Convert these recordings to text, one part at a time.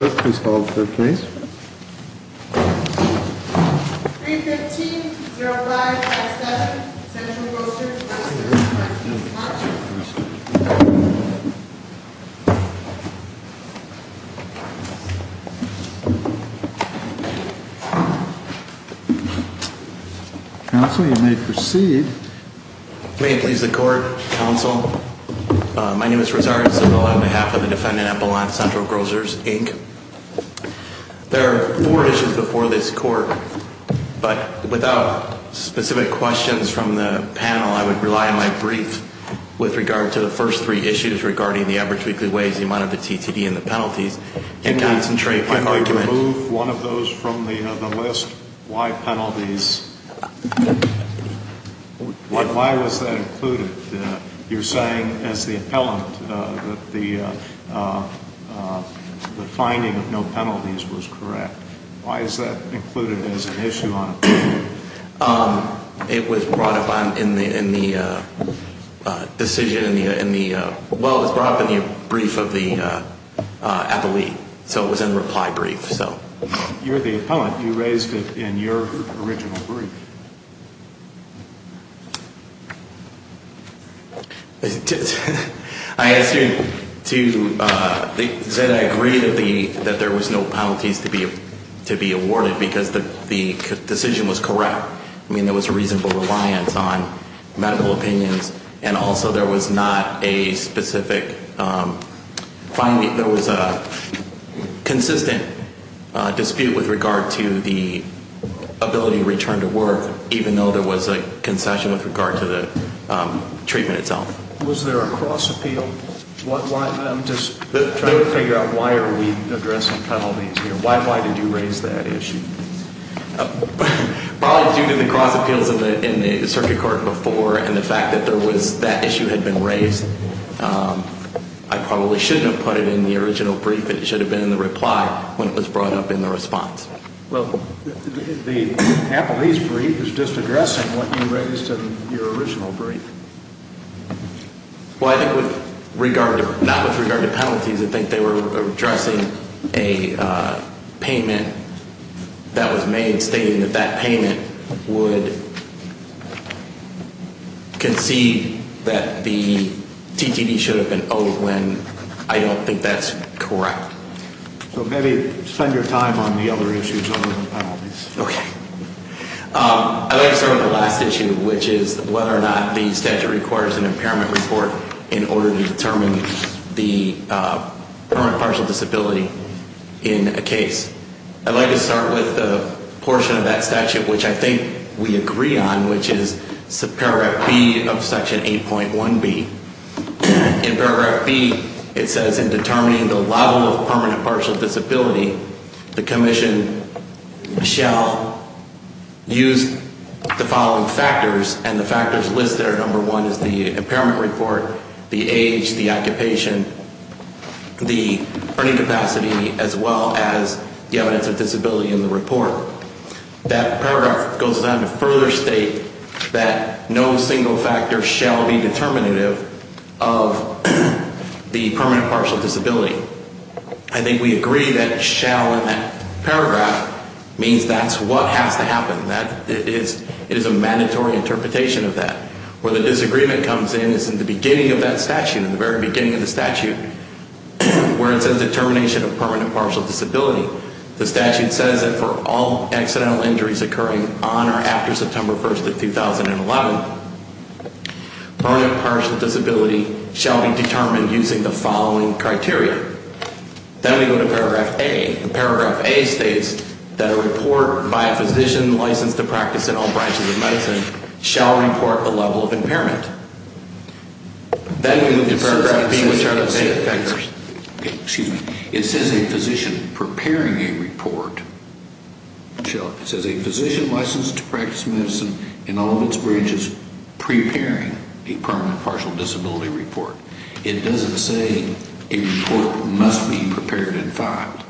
315.05.7 Central Grocers, Inc. Counsel, you may proceed. May it please the Court, Counsel, my name is Rosario Zavala on behalf of the defendant at Belmont Central Grocers, Inc. There are four issues before this Court, but without specific questions from the panel, I would rely on my brief with regard to the first three issues regarding the average weekly wage, the amount of the TTD and the penalties, and concentrate my argument to remove one of those from the list. Why penalties? Why was that included? You're saying as the appellant that the finding of no penalties was correct. Why is that included as an issue on appeal? It was brought up in the decision in the, well, it was brought up in the brief of the appellee. So it was in the reply brief. You're the appellant. You raised it in your original brief. I ask you to, that I agree that there was no penalties to be awarded because the decision was correct. I mean, there was reasonable reliance on medical opinions, and also there was not a specific finding, there was a consistent dispute with regard to the ability to return to work. Even though there was a concession with regard to the treatment itself. Was there a cross appeal? I'm just trying to figure out why are we addressing penalties here. Why did you raise that issue? Probably due to the cross appeals in the circuit court before and the fact that there was, that issue had been raised. I probably shouldn't have put it in the original brief. It should have been in the reply when it was brought up in the response. Well, the appellee's brief is just addressing what you raised in your original brief. Well, I think with regard to, not with regard to penalties, I think they were addressing a payment that was made stating that that payment would concede that the TTD should have been owed when I don't think that's correct. So maybe spend your time on the other issues other than penalties. Okay. I'd like to start with the last issue, which is whether or not the statute requires an impairment report in order to determine the permanent partial disability in a case. I'd like to start with the portion of that statute which I think we agree on, which is Paragraph B of Section 8.1B. In Paragraph B, it says in determining the level of permanent partial disability, the commission shall use the following factors and the factors listed are number one is the impairment report, the age, the occupation, the earning capacity, as well as the evidence of disability in the report. That paragraph goes on to further state that no single factor shall be determinative of the permanent partial disability. I think we agree that shall in that paragraph means that's what has to happen, that it is a mandatory interpretation of that. Where the disagreement comes in is in the beginning of that statute, in the very beginning of the statute, where it says determination of permanent partial disability. The statute says that for all accidental injuries occurring on or after September 1st of 2011, permanent partial disability shall be determined using the following criteria. Then we go to Paragraph A. Paragraph A states that a report by a physician licensed to practice in all branches of medicine shall report the level of impairment. It says a physician preparing a report, it says a physician licensed to practice medicine in all of its branches preparing a permanent partial disability report. It doesn't say a report must be prepared and filed.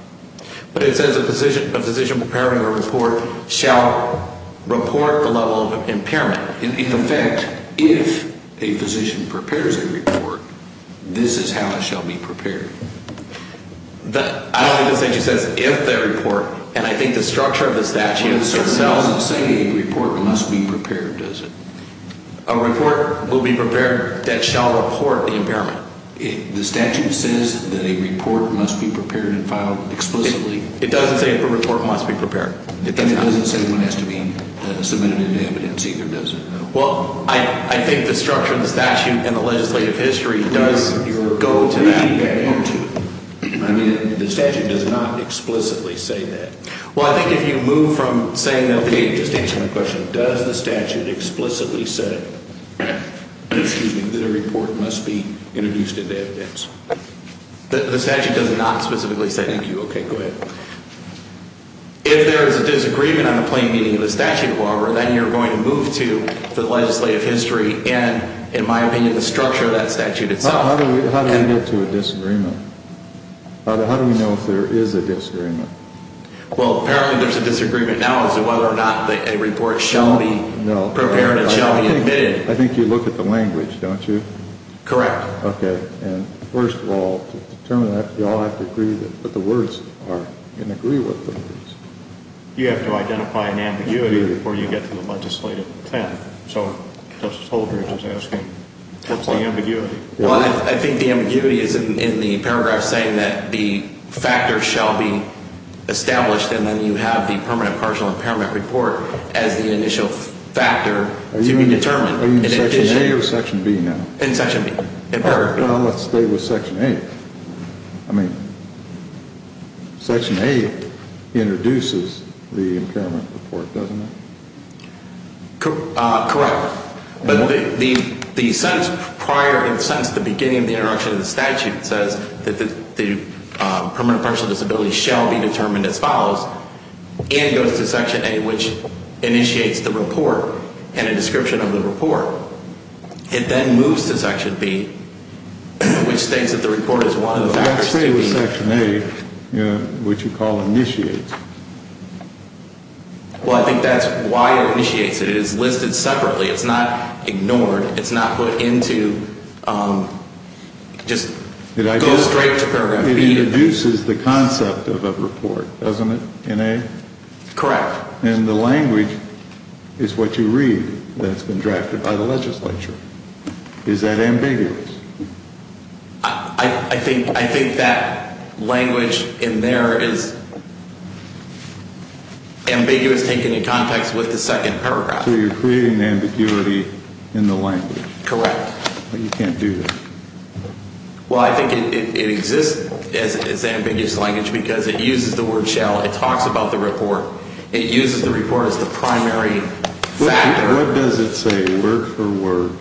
But it says a physician preparing a report shall report the level of impairment. In effect, if a physician prepares a report, this is how it shall be prepared. I don't think the statute says if the report, and I think the structure of the statute itself doesn't say a report must be prepared, does it? A report will be prepared that shall report the impairment. The statute says that a report must be prepared and filed explicitly. It doesn't say a report must be prepared. It doesn't say one has to be submitted to evidence either, does it? Well, I think the structure of the statute and the legislative history does go to that. I mean, the statute does not explicitly say that. Well, I think if you move from saying, okay, just answering the question, does the statute explicitly say that a report must be introduced to evidence? The statute does not specifically say that. Thank you. Okay, go ahead. If there is a disagreement on the plain meaning of the statute, however, then you're going to move to the legislative history and, in my opinion, the structure of that statute itself. How do we get to a disagreement? How do we know if there is a disagreement? Well, apparently there's a disagreement now as to whether or not a report shall be prepared and shall be admitted. I think you look at the language, don't you? Correct. Okay, and first of all, to determine that, you all have to agree what the words are and agree what the words are. You have to identify an ambiguity before you get to the legislative plan. Well, I think the ambiguity is in the paragraph saying that the factor shall be established and then you have the permanent partial impairment report as the initial factor to be determined. Are you in Section A or Section B now? In Section B. All right, well, let's stay with Section A. I mean, Section A introduces the impairment report, doesn't it? Correct, but the sentence prior and since the beginning of the introduction of the statute says that the permanent partial disability shall be determined as follows and goes to Section A, which initiates the report and a description of the report. It then moves to Section B, which states that the report is one of the factors to be determined. Let's stay with Section A, which you call initiates. Well, I think that's why it initiates. It is listed separately. It's not ignored. It's not put into just goes straight to Program B. It introduces the concept of a report, doesn't it, in A? Correct. And the language is what you read that's been drafted by the legislature. Is that ambiguous? I think that language in there is ambiguous taken in context with the second paragraph. So you're creating ambiguity in the language. Correct. But you can't do that. Well, I think it exists as ambiguous language because it uses the word shall. It talks about the report. It uses the report as the primary factor. What does it say, word for word?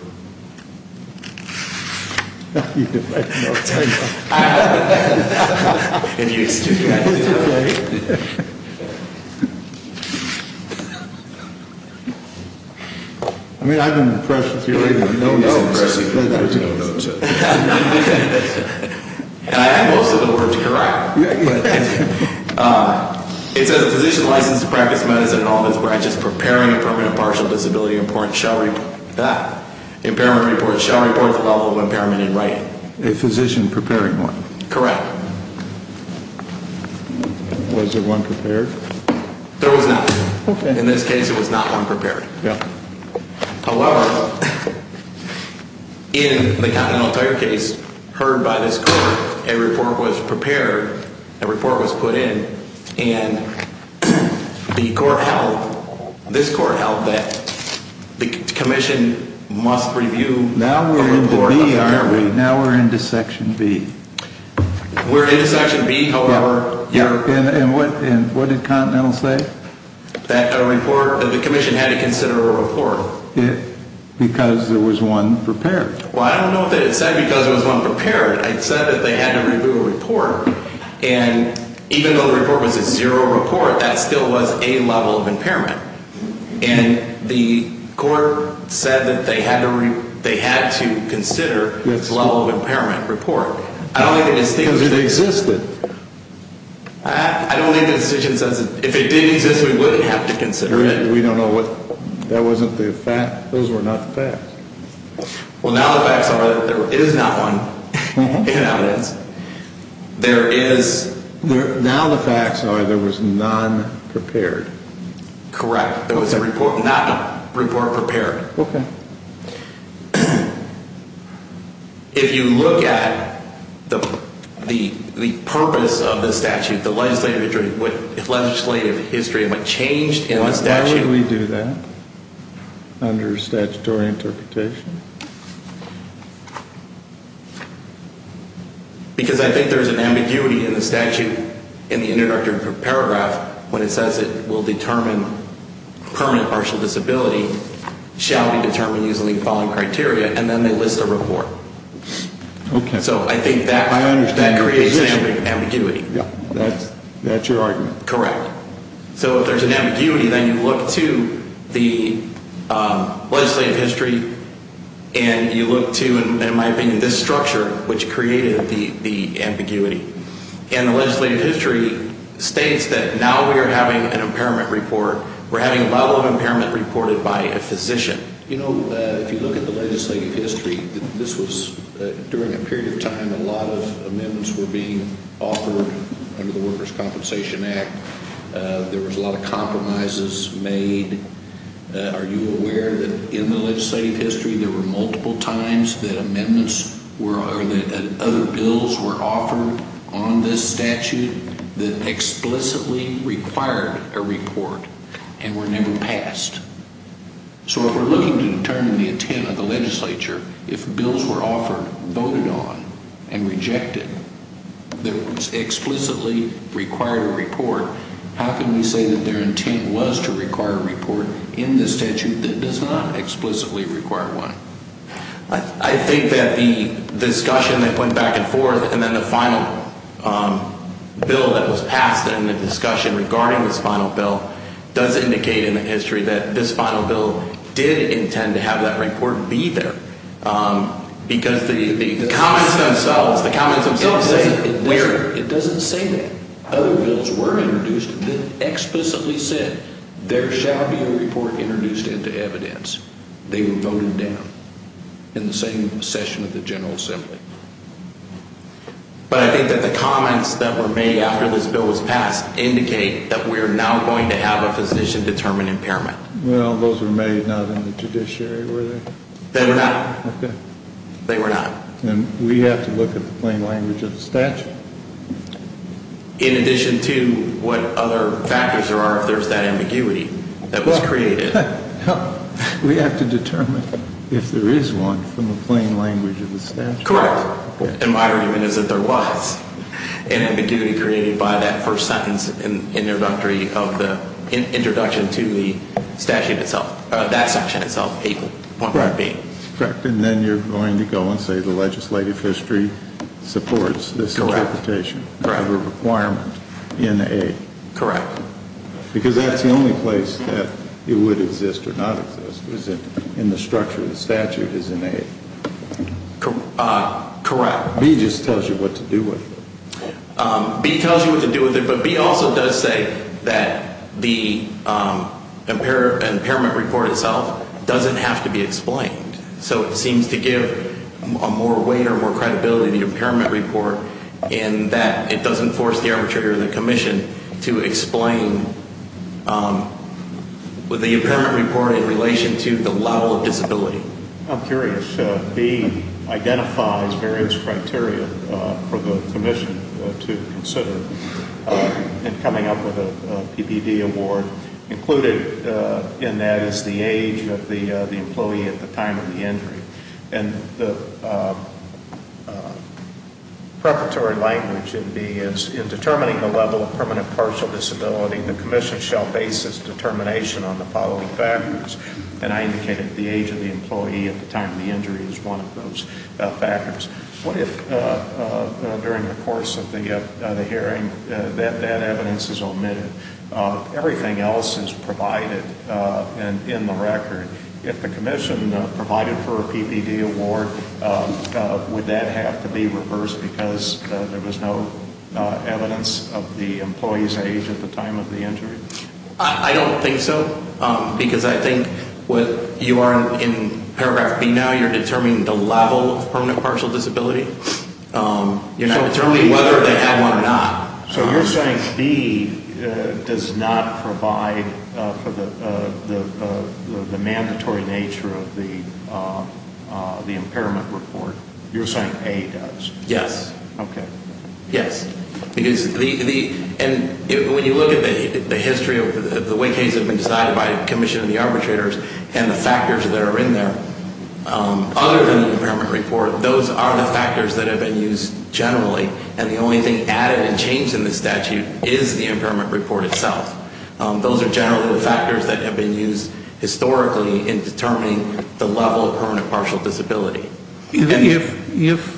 I don't know. If you'll excuse me. I mean, I'm impressed with your reading. No, no. And I have most of the words correct. It says a physician licensed to practice medicine in all of its branches preparing a permanent partial disability report shall report the level of impairment in writing. A physician preparing one. Correct. Was there one prepared? There was not. In this case, there was not one prepared. However, in the Continental Tire case heard by this court, a report was prepared, a report was put in. And the court held, this court held that the commission must review the report. Now we're into section B. We're into section B, however. And what did Continental say? That a report, that the commission had to consider a report. Because there was one prepared. Well, I don't know that it said because there was one prepared. It said that they had to review a report. And even though the report was a zero report, that still was a level of impairment. And the court said that they had to consider this level of impairment report. Because it existed. I don't think the decision says that if it did exist, we wouldn't have to consider it. We don't know what. That wasn't the fact. Those were not the facts. Well, now the facts are that there is not one. Now it is. There is. Now the facts are there was none prepared. Correct. There was not a report prepared. Okay. If you look at the purpose of the statute, the legislative history might change. Why would we do that under statutory interpretation? Because I think there's an ambiguity in the statute, in the introductory paragraph, when it says it will determine permanent partial disability shall be determined using the following criteria, and then they list a report. Okay. So I think that creates an ambiguity. That's your argument. Correct. So if there's an ambiguity, then you look to the legislative history, and you look to, in my opinion, this structure, which created the ambiguity. And the legislative history states that now we are having an impairment report. We're having a level of impairment reported by a physician. You know, if you look at the legislative history, during a period of time, a lot of amendments were being offered under the Workers' Compensation Act. There was a lot of compromises made. Are you aware that in the legislative history there were multiple times that amendments or that other bills were offered on this statute that explicitly required a report and were never passed? So if we're looking to determine the intent of the legislature, if bills were offered, voted on, and rejected that explicitly required a report, how can we say that their intent was to require a report in this statute that does not explicitly require one? I think that the discussion that went back and forth, and then the final bill that was passed in the discussion regarding this final bill, does indicate in the history that this final bill did intend to have that report be there. Because the comments themselves, the comments themselves say where. It doesn't say that. Other bills were introduced that explicitly said there shall be a report introduced into evidence. They were voted down in the same session of the General Assembly. But I think that the comments that were made after this bill was passed indicate that we're now going to have a physician-determined impairment. Well, those were made not in the judiciary, were they? They were not. Okay. They were not. And we have to look at the plain language of the statute. In addition to what other factors there are if there's that ambiguity that was created. We have to determine if there is one from the plain language of the statute. Correct. And my argument is that there was an ambiguity created by that first sentence in the introduction to the statute itself, that section itself, A. Correct. And then you're going to go and say the legislative history supports this interpretation of a requirement in A. Correct. Because that's the only place that it would exist or not exist is in the structure of the statute is in A. Correct. B just tells you what to do with it. B tells you what to do with it, but B also does say that the impairment report itself doesn't have to be explained. So it seems to give a more weight or more credibility to the impairment report in that it doesn't force the arbitrator or the commission to explain the impairment report in relation to the level of disability. I'm curious. B identifies various criteria for the commission to consider in coming up with a PBD award. Included in that is the age of the employee at the time of the injury. And the preparatory language in B is in determining the level of permanent partial disability, the commission shall base its determination on the following factors. And I indicated the age of the employee at the time of the injury is one of those factors. What if during the course of the hearing that that evidence is omitted? Everything else is provided in the record. If the commission provided for a PPD award, would that have to be reversed because there was no evidence of the employee's age at the time of the injury? I don't think so, because I think what you are in paragraph B now, you're determining the level of permanent partial disability. You're not determining whether they have one or not. So you're saying B does not provide for the mandatory nature of the impairment report. You're saying A does. Yes. Okay. Yes. Because when you look at the history of the way cases have been decided by the commission and the arbitrators and the factors that are in there, other than the impairment report, those are the factors that have been used generally. And the only thing added and changed in the statute is the impairment report itself. Those are generally the factors that have been used historically in determining the level of permanent partial disability. If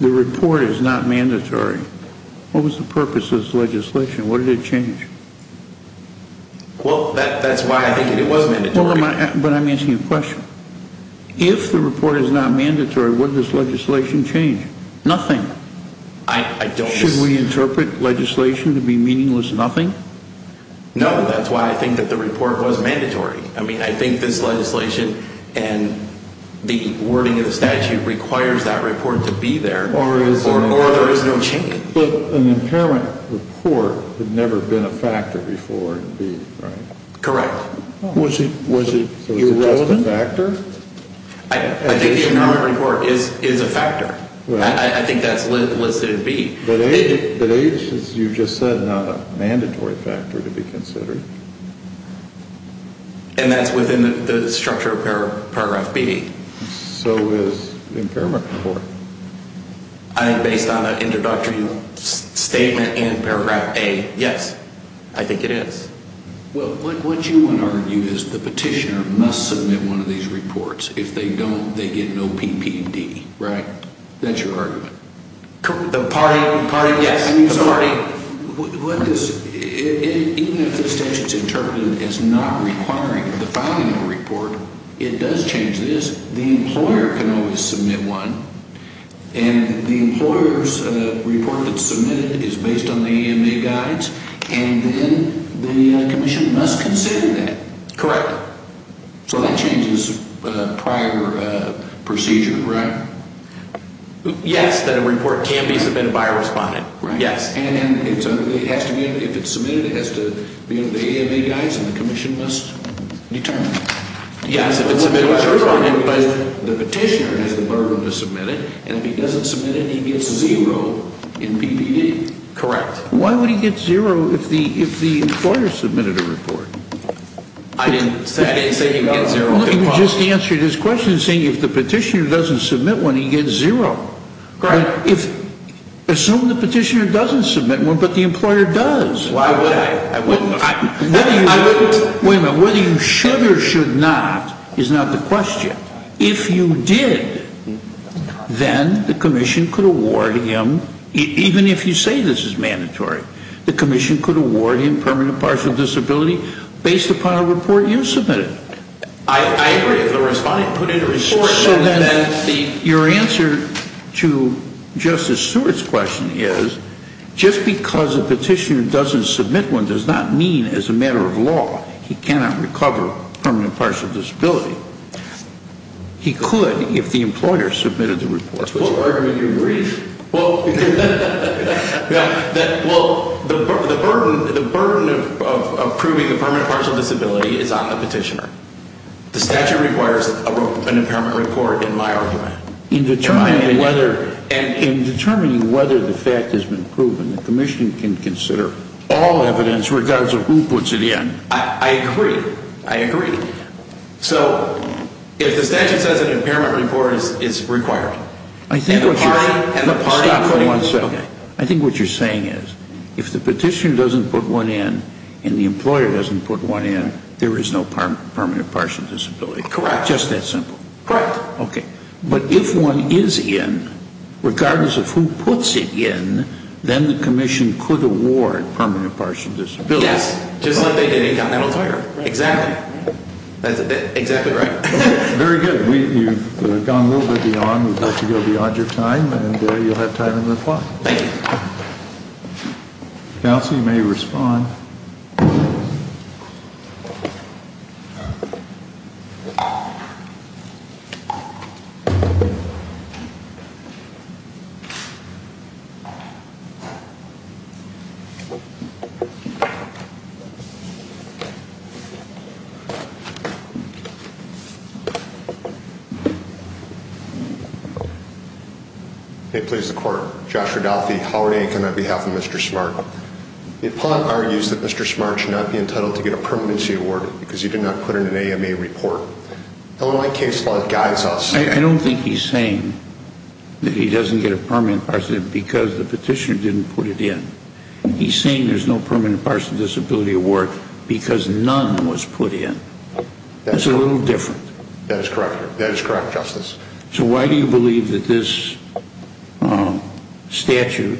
the report is not mandatory, what was the purpose of this legislation? What did it change? Well, that's why I think it was mandatory. But I'm asking you a question. If the report is not mandatory, what does legislation change? Nothing. Should we interpret legislation to be meaningless nothing? No, that's why I think that the report was mandatory. I mean, I think this legislation and the wording of the statute requires that report to be there, or there is no change. But an impairment report had never been a factor before in B, right? Correct. Was it just a factor? I think the impairment report is a factor. I think that's listed in B. But A, as you just said, is not a mandatory factor to be considered. And that's within the structure of Paragraph B. So is the impairment report. Based on an introductory statement in Paragraph A, yes, I think it is. Well, what you want to argue is the petitioner must submit one of these reports. If they don't, they get no PPD, right? That's your argument. The party, yes. Even if the statute is interpreted as not requiring the filing of a report, it does change this. The employer can always submit one. And the employer's report that's submitted is based on the EMA guides. And then the commission must consider that. Correct. So that changes prior procedure, correct? Yes, that a report can be submitted by a respondent. And if it's submitted, it has to be under the EMA guides, and the commission must determine that. Yes, if it's submitted by a respondent, but the petitioner has the burden to submit it. And if he doesn't submit it, he gets zero in PPD. Correct. Why would he get zero if the employer submitted a report? I didn't say he would get zero. You just answered his question saying if the petitioner doesn't submit one, he gets zero. Correct. Assume the petitioner doesn't submit one, but the employer does. Why would I? I wouldn't. I wouldn't. Wait a minute. Whether you should or should not is not the question. If you did, then the commission could award him, even if you say this is mandatory, the commission could award him permanent partial disability based upon a report you submitted. I agree. If the respondent put in a report. So then your answer to Justice Stewart's question is just because a petitioner doesn't submit one does not mean as a matter of law he cannot recover permanent partial disability. He could if the employer submitted the report. What argument do you agree? Well, the burden of approving a permanent partial disability is on the petitioner. The statute requires an impairment report in my argument. In determining whether the fact has been proven, the commission can consider all evidence regardless of who puts it in. I agree. I agree. So if the statute says an impairment report is required. I think what you're saying is if the petitioner doesn't put one in and the employer doesn't put one in, there is no permanent partial disability. Correct. Just that simple. Correct. Okay. But if one is in, regardless of who puts it in, then the commission could award permanent partial disability. Yes. Just like they did in Continental Tire. Exactly. That's exactly right. Very good. You've gone a little bit beyond. We'd like to go beyond your time, and you'll have time to reply. Thank you. Counsel, you may respond. It pleases the court. Joshua Duffy, Howard Inc. on behalf of Mr. Smart. The opponent argues that Mr. Smart should not be entitled to get a permanency award because he did not put in an AMA report. The only case law that guides us. I don't think he's saying that he doesn't get a permanent partial disability because the petitioner didn't put it in. He's saying there's no permanent partial disability award because none was put in. That's a little different. That is correct. That is correct, Justice. So why do you believe that this statute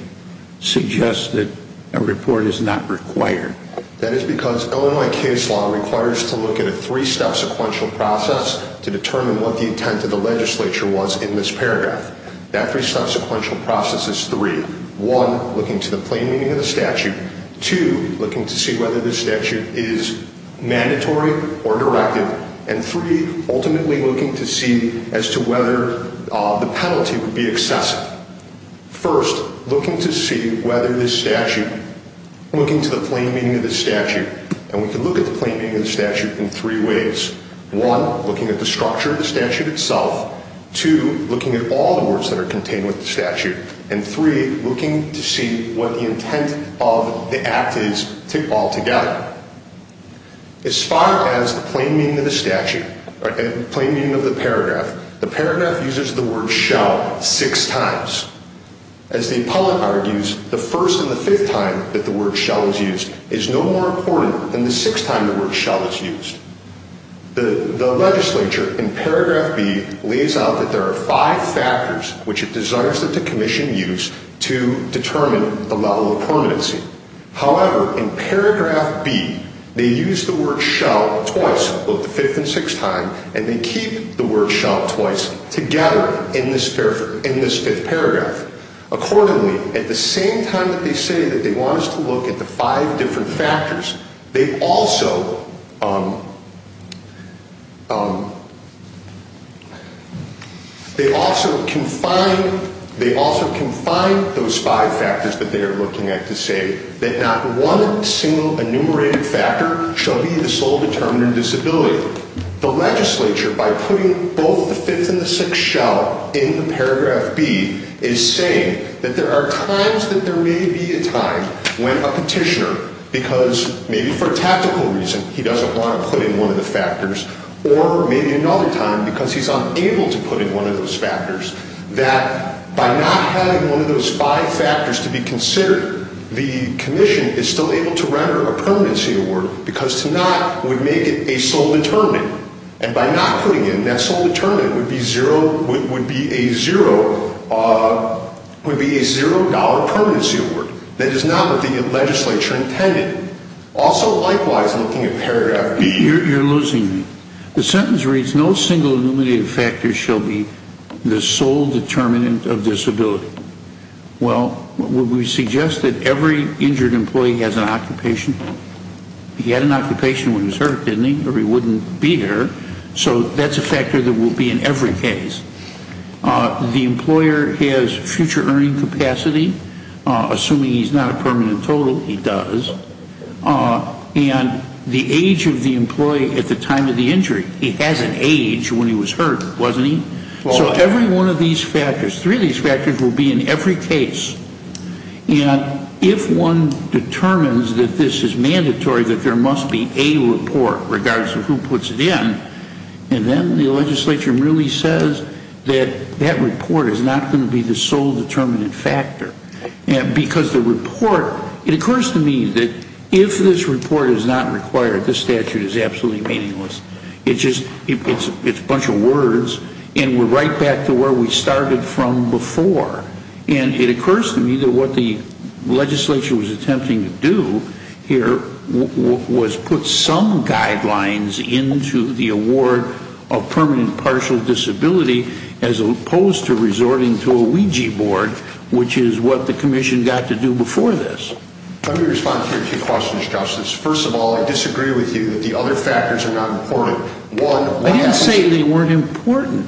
suggests that a report is not required? That is because Illinois case law requires to look at a three-step sequential process to determine what the intent of the legislature was in this paragraph. That three-step sequential process is three. One, looking to the plain meaning of the statute. Two, looking to see whether this statute is mandatory or directive. And three, ultimately looking to see as to whether the penalty would be excessive. First, looking to see whether this statute, looking to the plain meaning of the statute. And we can look at the plain meaning of the statute in three ways. One, looking at the structure of the statute itself. And three, looking to see what the intent of the act is altogether. As far as the plain meaning of the statute, plain meaning of the paragraph, the paragraph uses the word shall six times. As the appellate argues, the first and the fifth time that the word shall is used is no more important than the sixth time the word shall is used. The legislature in paragraph B lays out that there are five factors which it desires that the commission use to determine the level of permanency. However, in paragraph B, they use the word shall twice, both the fifth and sixth time, and they keep the word shall twice together in this fifth paragraph. Accordingly, at the same time that they say that they want us to look at the five different factors, they also confine those five factors that they are looking at to say that not one single enumerated factor shall be the sole determinant of disability. So the legislature, by putting both the fifth and the sixth shall in the paragraph B, is saying that there are times that there may be a time when a petitioner, because maybe for a tactical reason he doesn't want to put in one of the factors, or maybe another time because he's unable to put in one of those factors, that by not having one of those five factors to be considered, the commission is still able to render a permanency award, because to not would make it a sole determinant. And by not putting it, that sole determinant would be a zero-dollar permanency award. That is not what the legislature intended. Also, likewise, looking at paragraph B... You're losing me. The sentence reads, no single enumerated factor shall be the sole determinant of disability. Well, would we suggest that every injured employee has an occupation? He had an occupation when he was hurt, didn't he? Or he wouldn't be here. So that's a factor that will be in every case. The employer has future earning capacity. Assuming he's not a permanent total, he does. And the age of the employee at the time of the injury. He has an age when he was hurt, wasn't he? So every one of these factors, three of these factors, will be in every case. And if one determines that this is mandatory, that there must be a report, regardless of who puts it in, and then the legislature really says that that report is not going to be the sole determinant factor. Because the report... It occurs to me that if this report is not required, this statute is absolutely meaningless. It's a bunch of words. And we're right back to where we started from before. And it occurs to me that what the legislature was attempting to do here was put some guidelines into the award of permanent partial disability as opposed to resorting to a Ouija board, which is what the commission got to do before this. Let me respond to your two questions, Justice. First of all, I disagree with you that the other factors are not important. One... I didn't say they weren't important.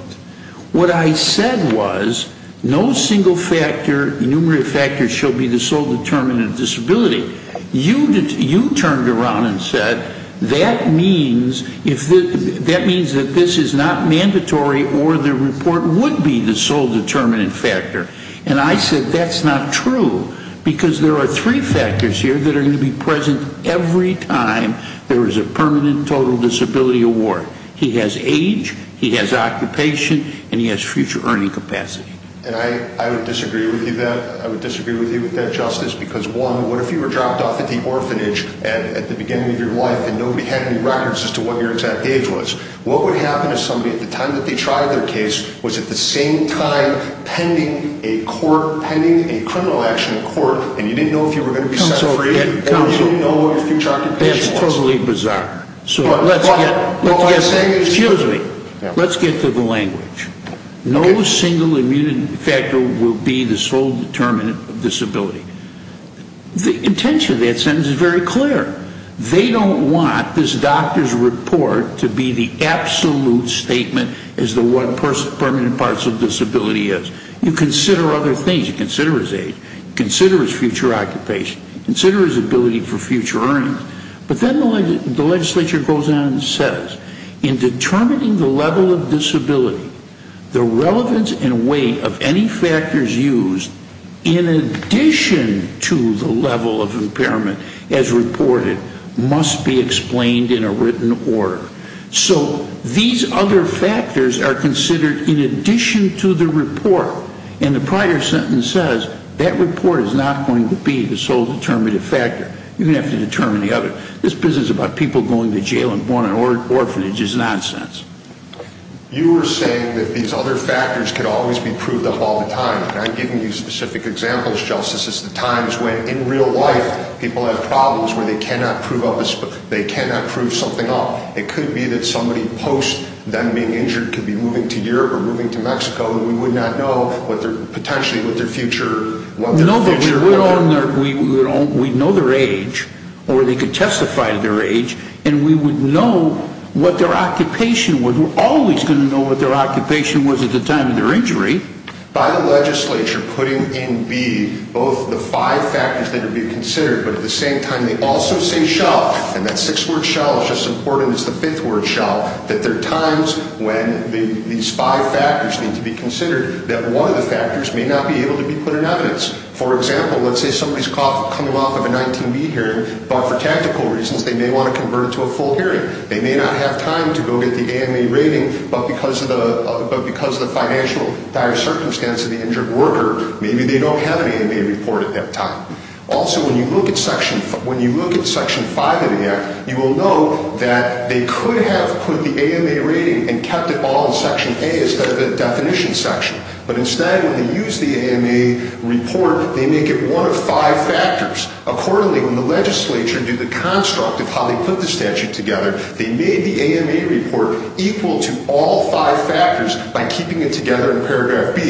What I said was no single factor, numerator factor, shall be the sole determinant of disability. You turned around and said that means that this is not mandatory or the report would be the sole determinant factor. And I said that's not true. Because there are three factors here that are going to be present every time there is a permanent total disability award. He has age, he has occupation, and he has future earning capacity. And I would disagree with you with that, Justice. Because one, what if you were dropped off at the orphanage at the beginning of your life and nobody had any records as to what your exact age was? What would happen if somebody, at the time that they tried their case, was at the same time pending a criminal action in court and you didn't know if you were going to be set free or you didn't know what your future occupation was? That's totally bizarre. So let's get to the language. No single immunity factor will be the sole determinant of disability. The intention of that sentence is very clear. They don't want this doctor's report to be the absolute statement as to what permanent parts of disability is. You consider other things. You consider his age. You consider his future occupation. You consider his ability for future earnings. But then the legislature goes on and says, in determining the level of disability, the relevance and weight of any factors used in addition to the level of impairment as reported must be explained in a written order. So these other factors are considered in addition to the report. And the prior sentence says that report is not going to be the sole determinative factor. You're going to have to determine the other. This business about people going to jail and going to an orphanage is nonsense. You were saying that these other factors could always be proved up all the time. And I'm giving you specific examples, Justice, as the times when in real life people have problems where they cannot prove something up. It could be that somebody post them being injured could be moving to Europe or moving to Mexico and we would not know potentially what their future. We know their age, or they could testify to their age, and we would know what their occupation was. We're always going to know what their occupation was at the time of their injury. By the legislature putting in B both the five factors that would be considered, but at the same time they also say shell. And that six-word shell is just as important as the fifth-word shell, that there are times when these five factors need to be considered that one of the factors may not be able to be put in evidence. For example, let's say somebody's caught coming off of a 19B hearing, but for tactical reasons they may want to convert it to a full hearing. They may not have time to go get the AMA rating, but because of the financial dire circumstance of the injured worker, maybe they don't have an AMA report at that time. Also, when you look at Section 5 of the Act, you will know that they could have put the AMA rating and kept it all in Section A instead of the definition section. But instead, when they use the AMA report, they make it one of five factors. Accordingly, when the legislature did the construct of how they put the statute together, they made the AMA report equal to all five factors by keeping it together in Paragraph B.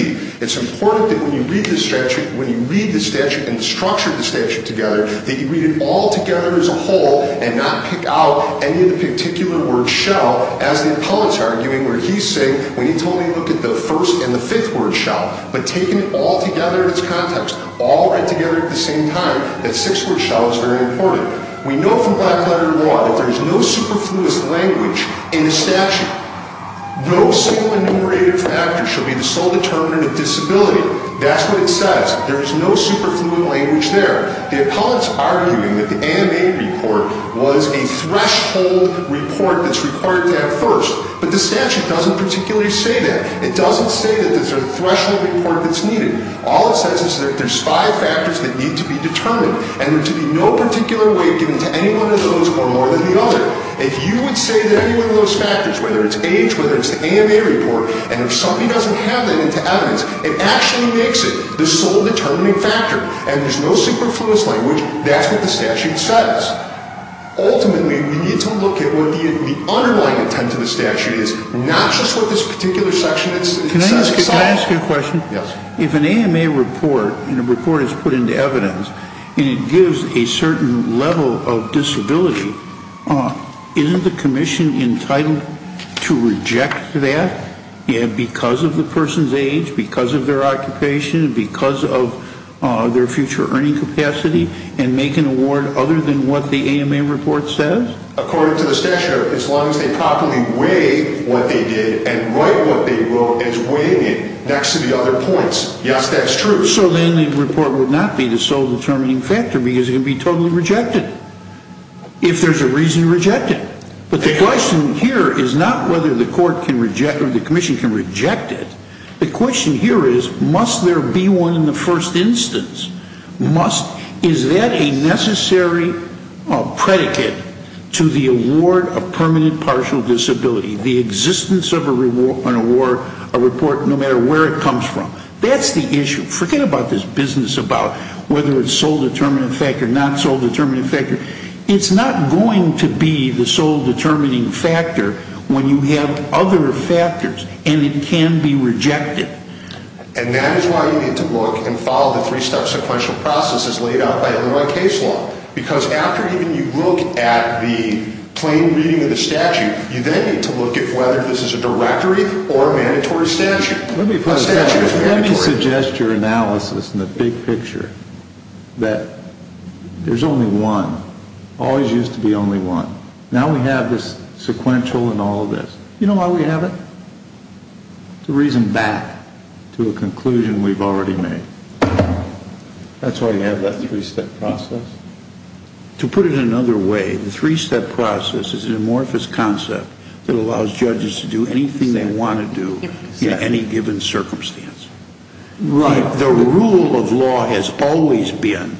It's important that when you read the statute and structure the statute together, that you read it all together as a whole and not pick out any of the particular word shell, as the appellant's arguing where he's saying, when he told me to look at the first and the fifth word shell, but taking it all together in its context, all read together at the same time, that six-word shell is very important. We know from black-letter law that there is no superfluous language in a statute. No single enumerated factor shall be the sole determinant of disability. That's what it says. There is no superfluous language there. The appellant's arguing that the AMA report was a threshold report that's required to have first, but the statute doesn't particularly say that. It doesn't say that there's a threshold report that's needed. All it says is that there's five factors that need to be determined and there to be no particular weight given to any one of those or more than the other. If you would say that any one of those factors, whether it's age, whether it's the AMA report, and if somebody doesn't have that into evidence, it actually makes it the sole determining factor, and there's no superfluous language, that's what the statute says. Ultimately, we need to look at what the underlying intent of the statute is, not just what this particular section says itself. Can I ask you a question? Yes. If an AMA report and a report is put into evidence and it gives a certain level of disability, isn't the commission entitled to reject that because of the person's age, because of their occupation, because of their future earning capacity, and make an award other than what the AMA report says? According to the statute, as long as they properly weigh what they did and write what they wrote as weighing it next to the other points. Yes, that's true. If so, then the report would not be the sole determining factor because it would be totally rejected, if there's a reason to reject it. But the question here is not whether the commission can reject it. The question here is, must there be one in the first instance? Is that a necessary predicate to the award of permanent partial disability, the existence of an award, a report, no matter where it comes from? That's the issue. Forget about this business about whether it's sole determining factor, not sole determining factor. It's not going to be the sole determining factor when you have other factors and it can be rejected. And that is why you need to look and follow the three-step sequential process as laid out by Illinois case law. Because after even you look at the plain reading of the statute, you then need to look at whether this is a directory or a mandatory statute. Let me suggest your analysis in the big picture that there's only one, always used to be only one. Now we have this sequential and all of this. You know why we have it? To reason back to a conclusion we've already made. That's why you have that three-step process? To put it another way, the three-step process is an amorphous concept that allows judges to do anything they want to do in any given circumstance. Right. The rule of law has always been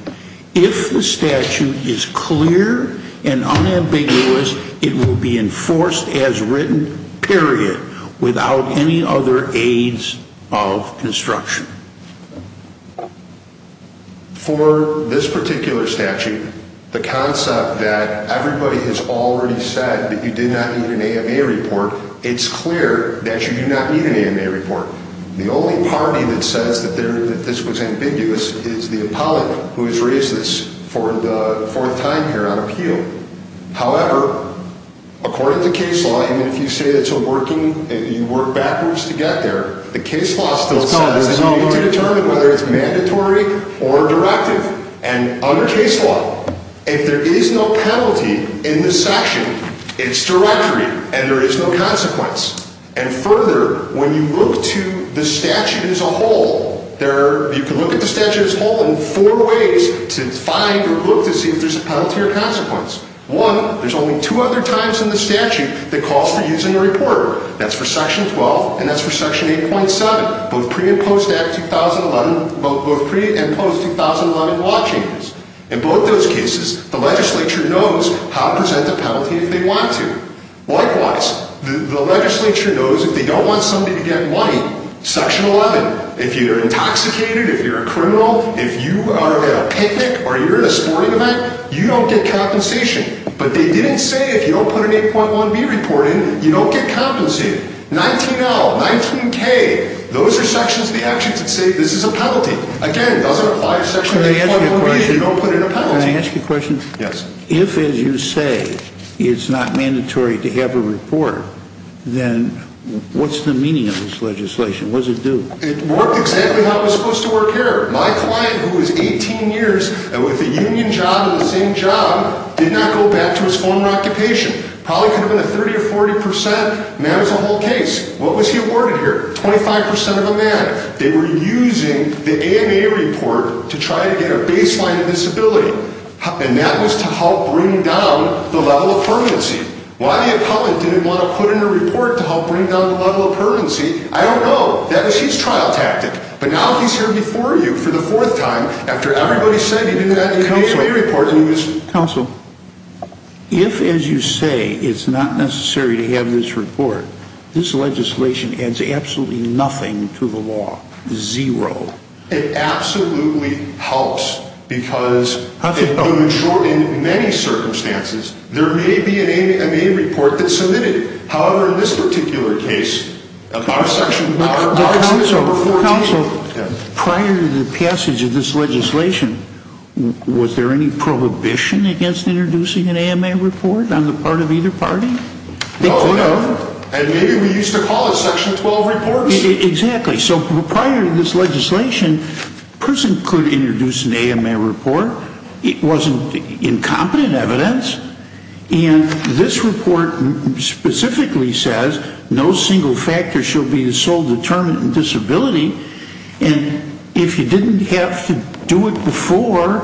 if the statute is clear and unambiguous, it will be enforced as written, period, without any other aids of construction. For this particular statute, the concept that everybody has already said that you did not need an AMA report, it's clear that you do not need an AMA report. The only party that says that this was ambiguous is the appellate who has raised this for the fourth time here on appeal. However, according to case law, even if you say that you work backwards to get there, the case law still says that you need to determine whether it's mandatory or directive. Under case law, if there is no penalty in this section, it's directory and there is no consequence. Further, when you look to the statute as a whole, you can look at the statute as a whole in four ways to find or look to see if there's a penalty or consequence. One, there's only two other times in the statute that calls for using a reporter. That's for Section 12 and that's for Section 8.7, both pre- and post-2011 law changes. In both those cases, the legislature knows how to present a penalty if they want to. Likewise, the legislature knows if they don't want somebody to get money, Section 11, if you're intoxicated, if you're a criminal, if you are at a picnic or you're at a sporting event, you don't get compensation. But they didn't say if you don't put an 8.1b report in, you don't get compensated. 19L, 19K, those are sections of the actions that say this is a penalty. Again, it doesn't apply to Section 8.1b, you don't put in a penalty. Can I ask you a question? Yes. If, as you say, it's not mandatory to have a reporter, then what's the meaning of this legislation? What does it do? It worked exactly how it was supposed to work here. My client, who was 18 years and with a union job and the same job, did not go back to his former occupation. Probably could have been a 30% or 40% man as a whole case. What was he awarded here? 25% of a man. They were using the AMA report to try to get a baseline of disability. And that was to help bring down the level of permanency. Why the appellant didn't want to put in a report to help bring down the level of permanency, I don't know. That was his trial tactic. But now he's here before you for the fourth time after everybody said he did that in the AMA report. Counsel, if, as you say, it's not necessary to have this report, this legislation adds absolutely nothing to the law. Zero. It absolutely helps. Because in many circumstances, there may be an AMA report that's submitted. However, in this particular case, section 14. Counsel, prior to the passage of this legislation, was there any prohibition against introducing an AMA report on the part of either party? No. And maybe we used to call it section 12 reports. Exactly. So prior to this legislation, a person could introduce an AMA report. It wasn't incompetent evidence. And this report specifically says no single factor should be the sole determinant in disability. And if you didn't have to do it before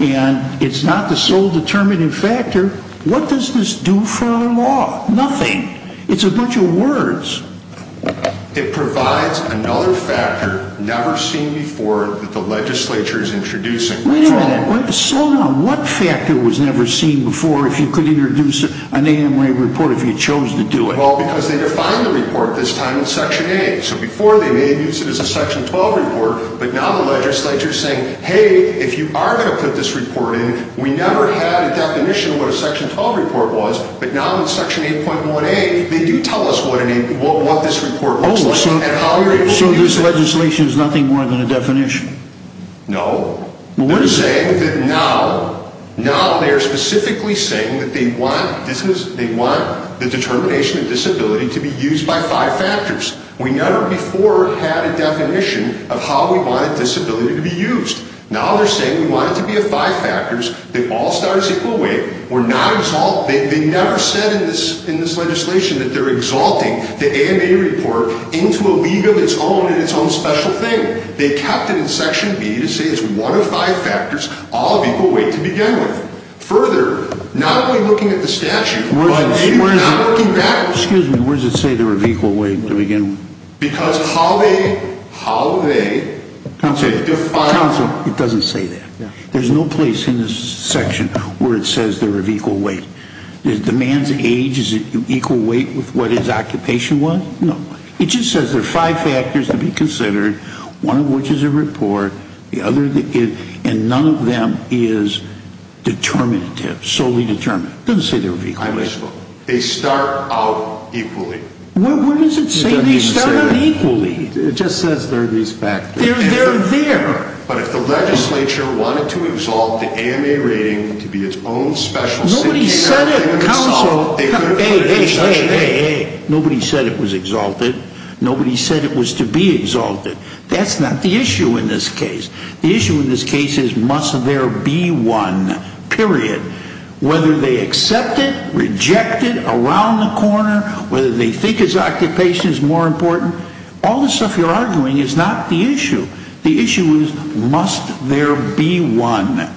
and it's not the sole determinant factor, what does this do for our law? Nothing. It's a bunch of words. It provides another factor never seen before that the legislature is introducing. Wait a minute. Slow down. What factor was never seen before if you could introduce an AMA report if you chose to do it? Well, because they defined the report this time in section A. So before, they may have used it as a section 12 report. But now the legislature is saying, hey, if you are going to put this report in, we never had a definition of what a section 12 report was. But now in section 8.1A, they do tell us what this report looks like and how you're able to use it. So this legislation is nothing more than a definition? No. They're saying that now they're specifically saying that they want the determination of disability to be used by five factors. We never before had a definition of how we wanted disability to be used. Now they're saying we want it to be of five factors, that all stars equal weight. We're not exalting. They never said in this legislation that they're exalting the AMA report into a league of its own and its own special thing. They kept it in section B to say it's one of five factors, all of equal weight to begin with. Further, not only looking at the statute, but maybe not looking back. Excuse me, where does it say they're of equal weight to begin with? Because how they, how they define. Counselor, it doesn't say that. There's no place in this section where it says they're of equal weight. Is the man's age equal weight with what his occupation was? No. It just says they're five factors to be considered, one of which is a report, and none of them is determinative, solely determinative. It doesn't say they're of equal weight. They start out equally. What does it say they start out equally? It just says they're these factors. They're there. But if the legislature wanted to exalt the AMA rating to be its own special thing. Nobody said it, Counselor. Nobody said it was exalted. Nobody said it was to be exalted. That's not the issue in this case. The issue in this case is must there be one, period. Whether they accept it, reject it, around the corner, whether they think its occupation is more important, all the stuff you're arguing is not the issue. The issue is must there be one.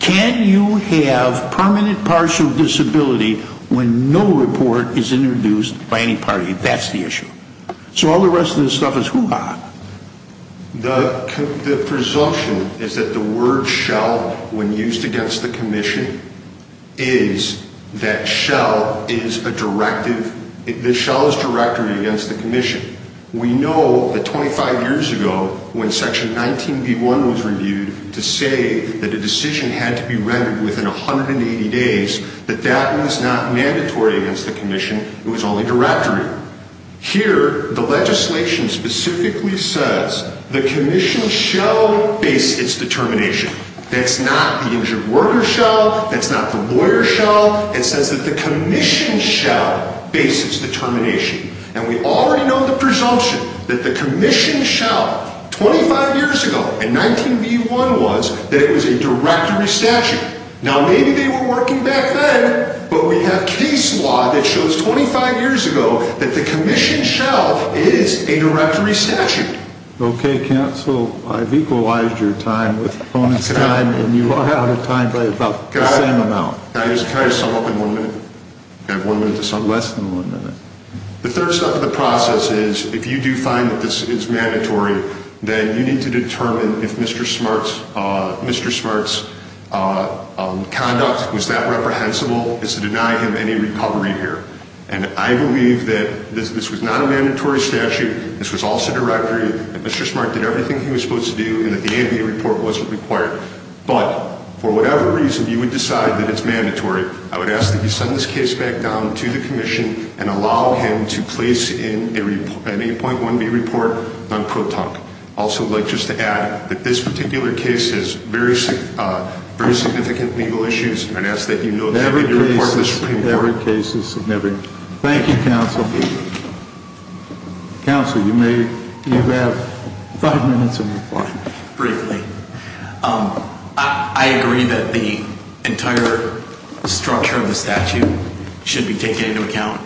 Can you have permanent partial disability when no report is introduced by any party? That's the issue. So all the rest of this stuff is hoo-ha. The presumption is that the word shall, when used against the commission, is that shall is a directive. The shall is directory against the commission. We know that 25 years ago when Section 19b.1 was reviewed to say that a decision had to be rendered within 180 days, that that was not mandatory against the commission. It was only directory. Here, the legislation specifically says the commission shall base its determination. That's not the injured worker shall. That's not the lawyer shall. It says that the commission shall base its determination. And we already know the presumption that the commission shall, 25 years ago in 19b.1 was, that it was a directory statute. Now, maybe they were working back then, but we have case law that shows 25 years ago that the commission shall is a directory statute. Okay, counsel, I've equalized your time with the opponent's time, and you are out of time by about the same amount. Can I just sum up in one minute? Less than one minute. The third step of the process is, if you do find that this is mandatory, then you need to determine if Mr. Smart's conduct was that reprehensible as to deny him any recovery here. And I believe that this was not a mandatory statute. This was also directory. Mr. Smart did everything he was supposed to do and that the ambient report wasn't required. But for whatever reason, you would decide that it's mandatory. I would ask that you send this case back down to the commission and allow him to place in an 8.1b report on ProTonc. Also, I'd like just to add that this particular case has very significant legal issues, and I'd ask that you note that in your report to the Supreme Court. Every case is significant. Thank you, counsel. Counsel, you may have five minutes of your time. Briefly, I agree that the entire structure of the statute should be taken into account.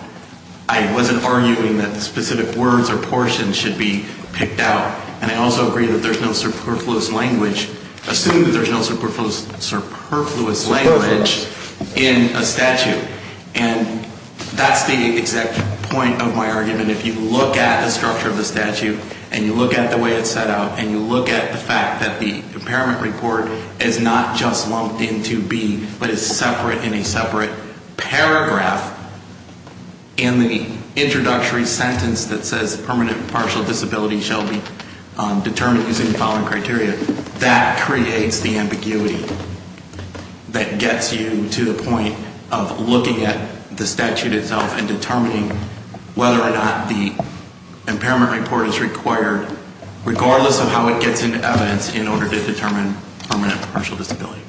I wasn't arguing that the specific words or portions should be picked out. And I also agree that there's no superfluous language. Assume that there's no superfluous language in a statute. And that's the exact point of my argument. If you look at the structure of the statute, and you look at the way it's set out, and you look at the fact that the impairment report is not just lumped into B, but is separate in a separate paragraph in the introductory sentence that says permanent partial disability shall be determined using the following criteria, that creates the ambiguity that gets you to the point of looking at the statute itself and determining whether or not the impairment report is required, regardless of how it gets into evidence, in order to determine permanent partial disability.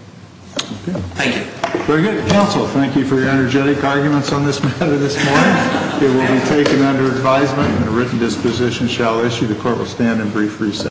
Thank you. Very good. Counsel, thank you for your energetic arguments on this matter this morning. It will be taken under advisement, and a written disposition shall issue. The court will stand in brief recess.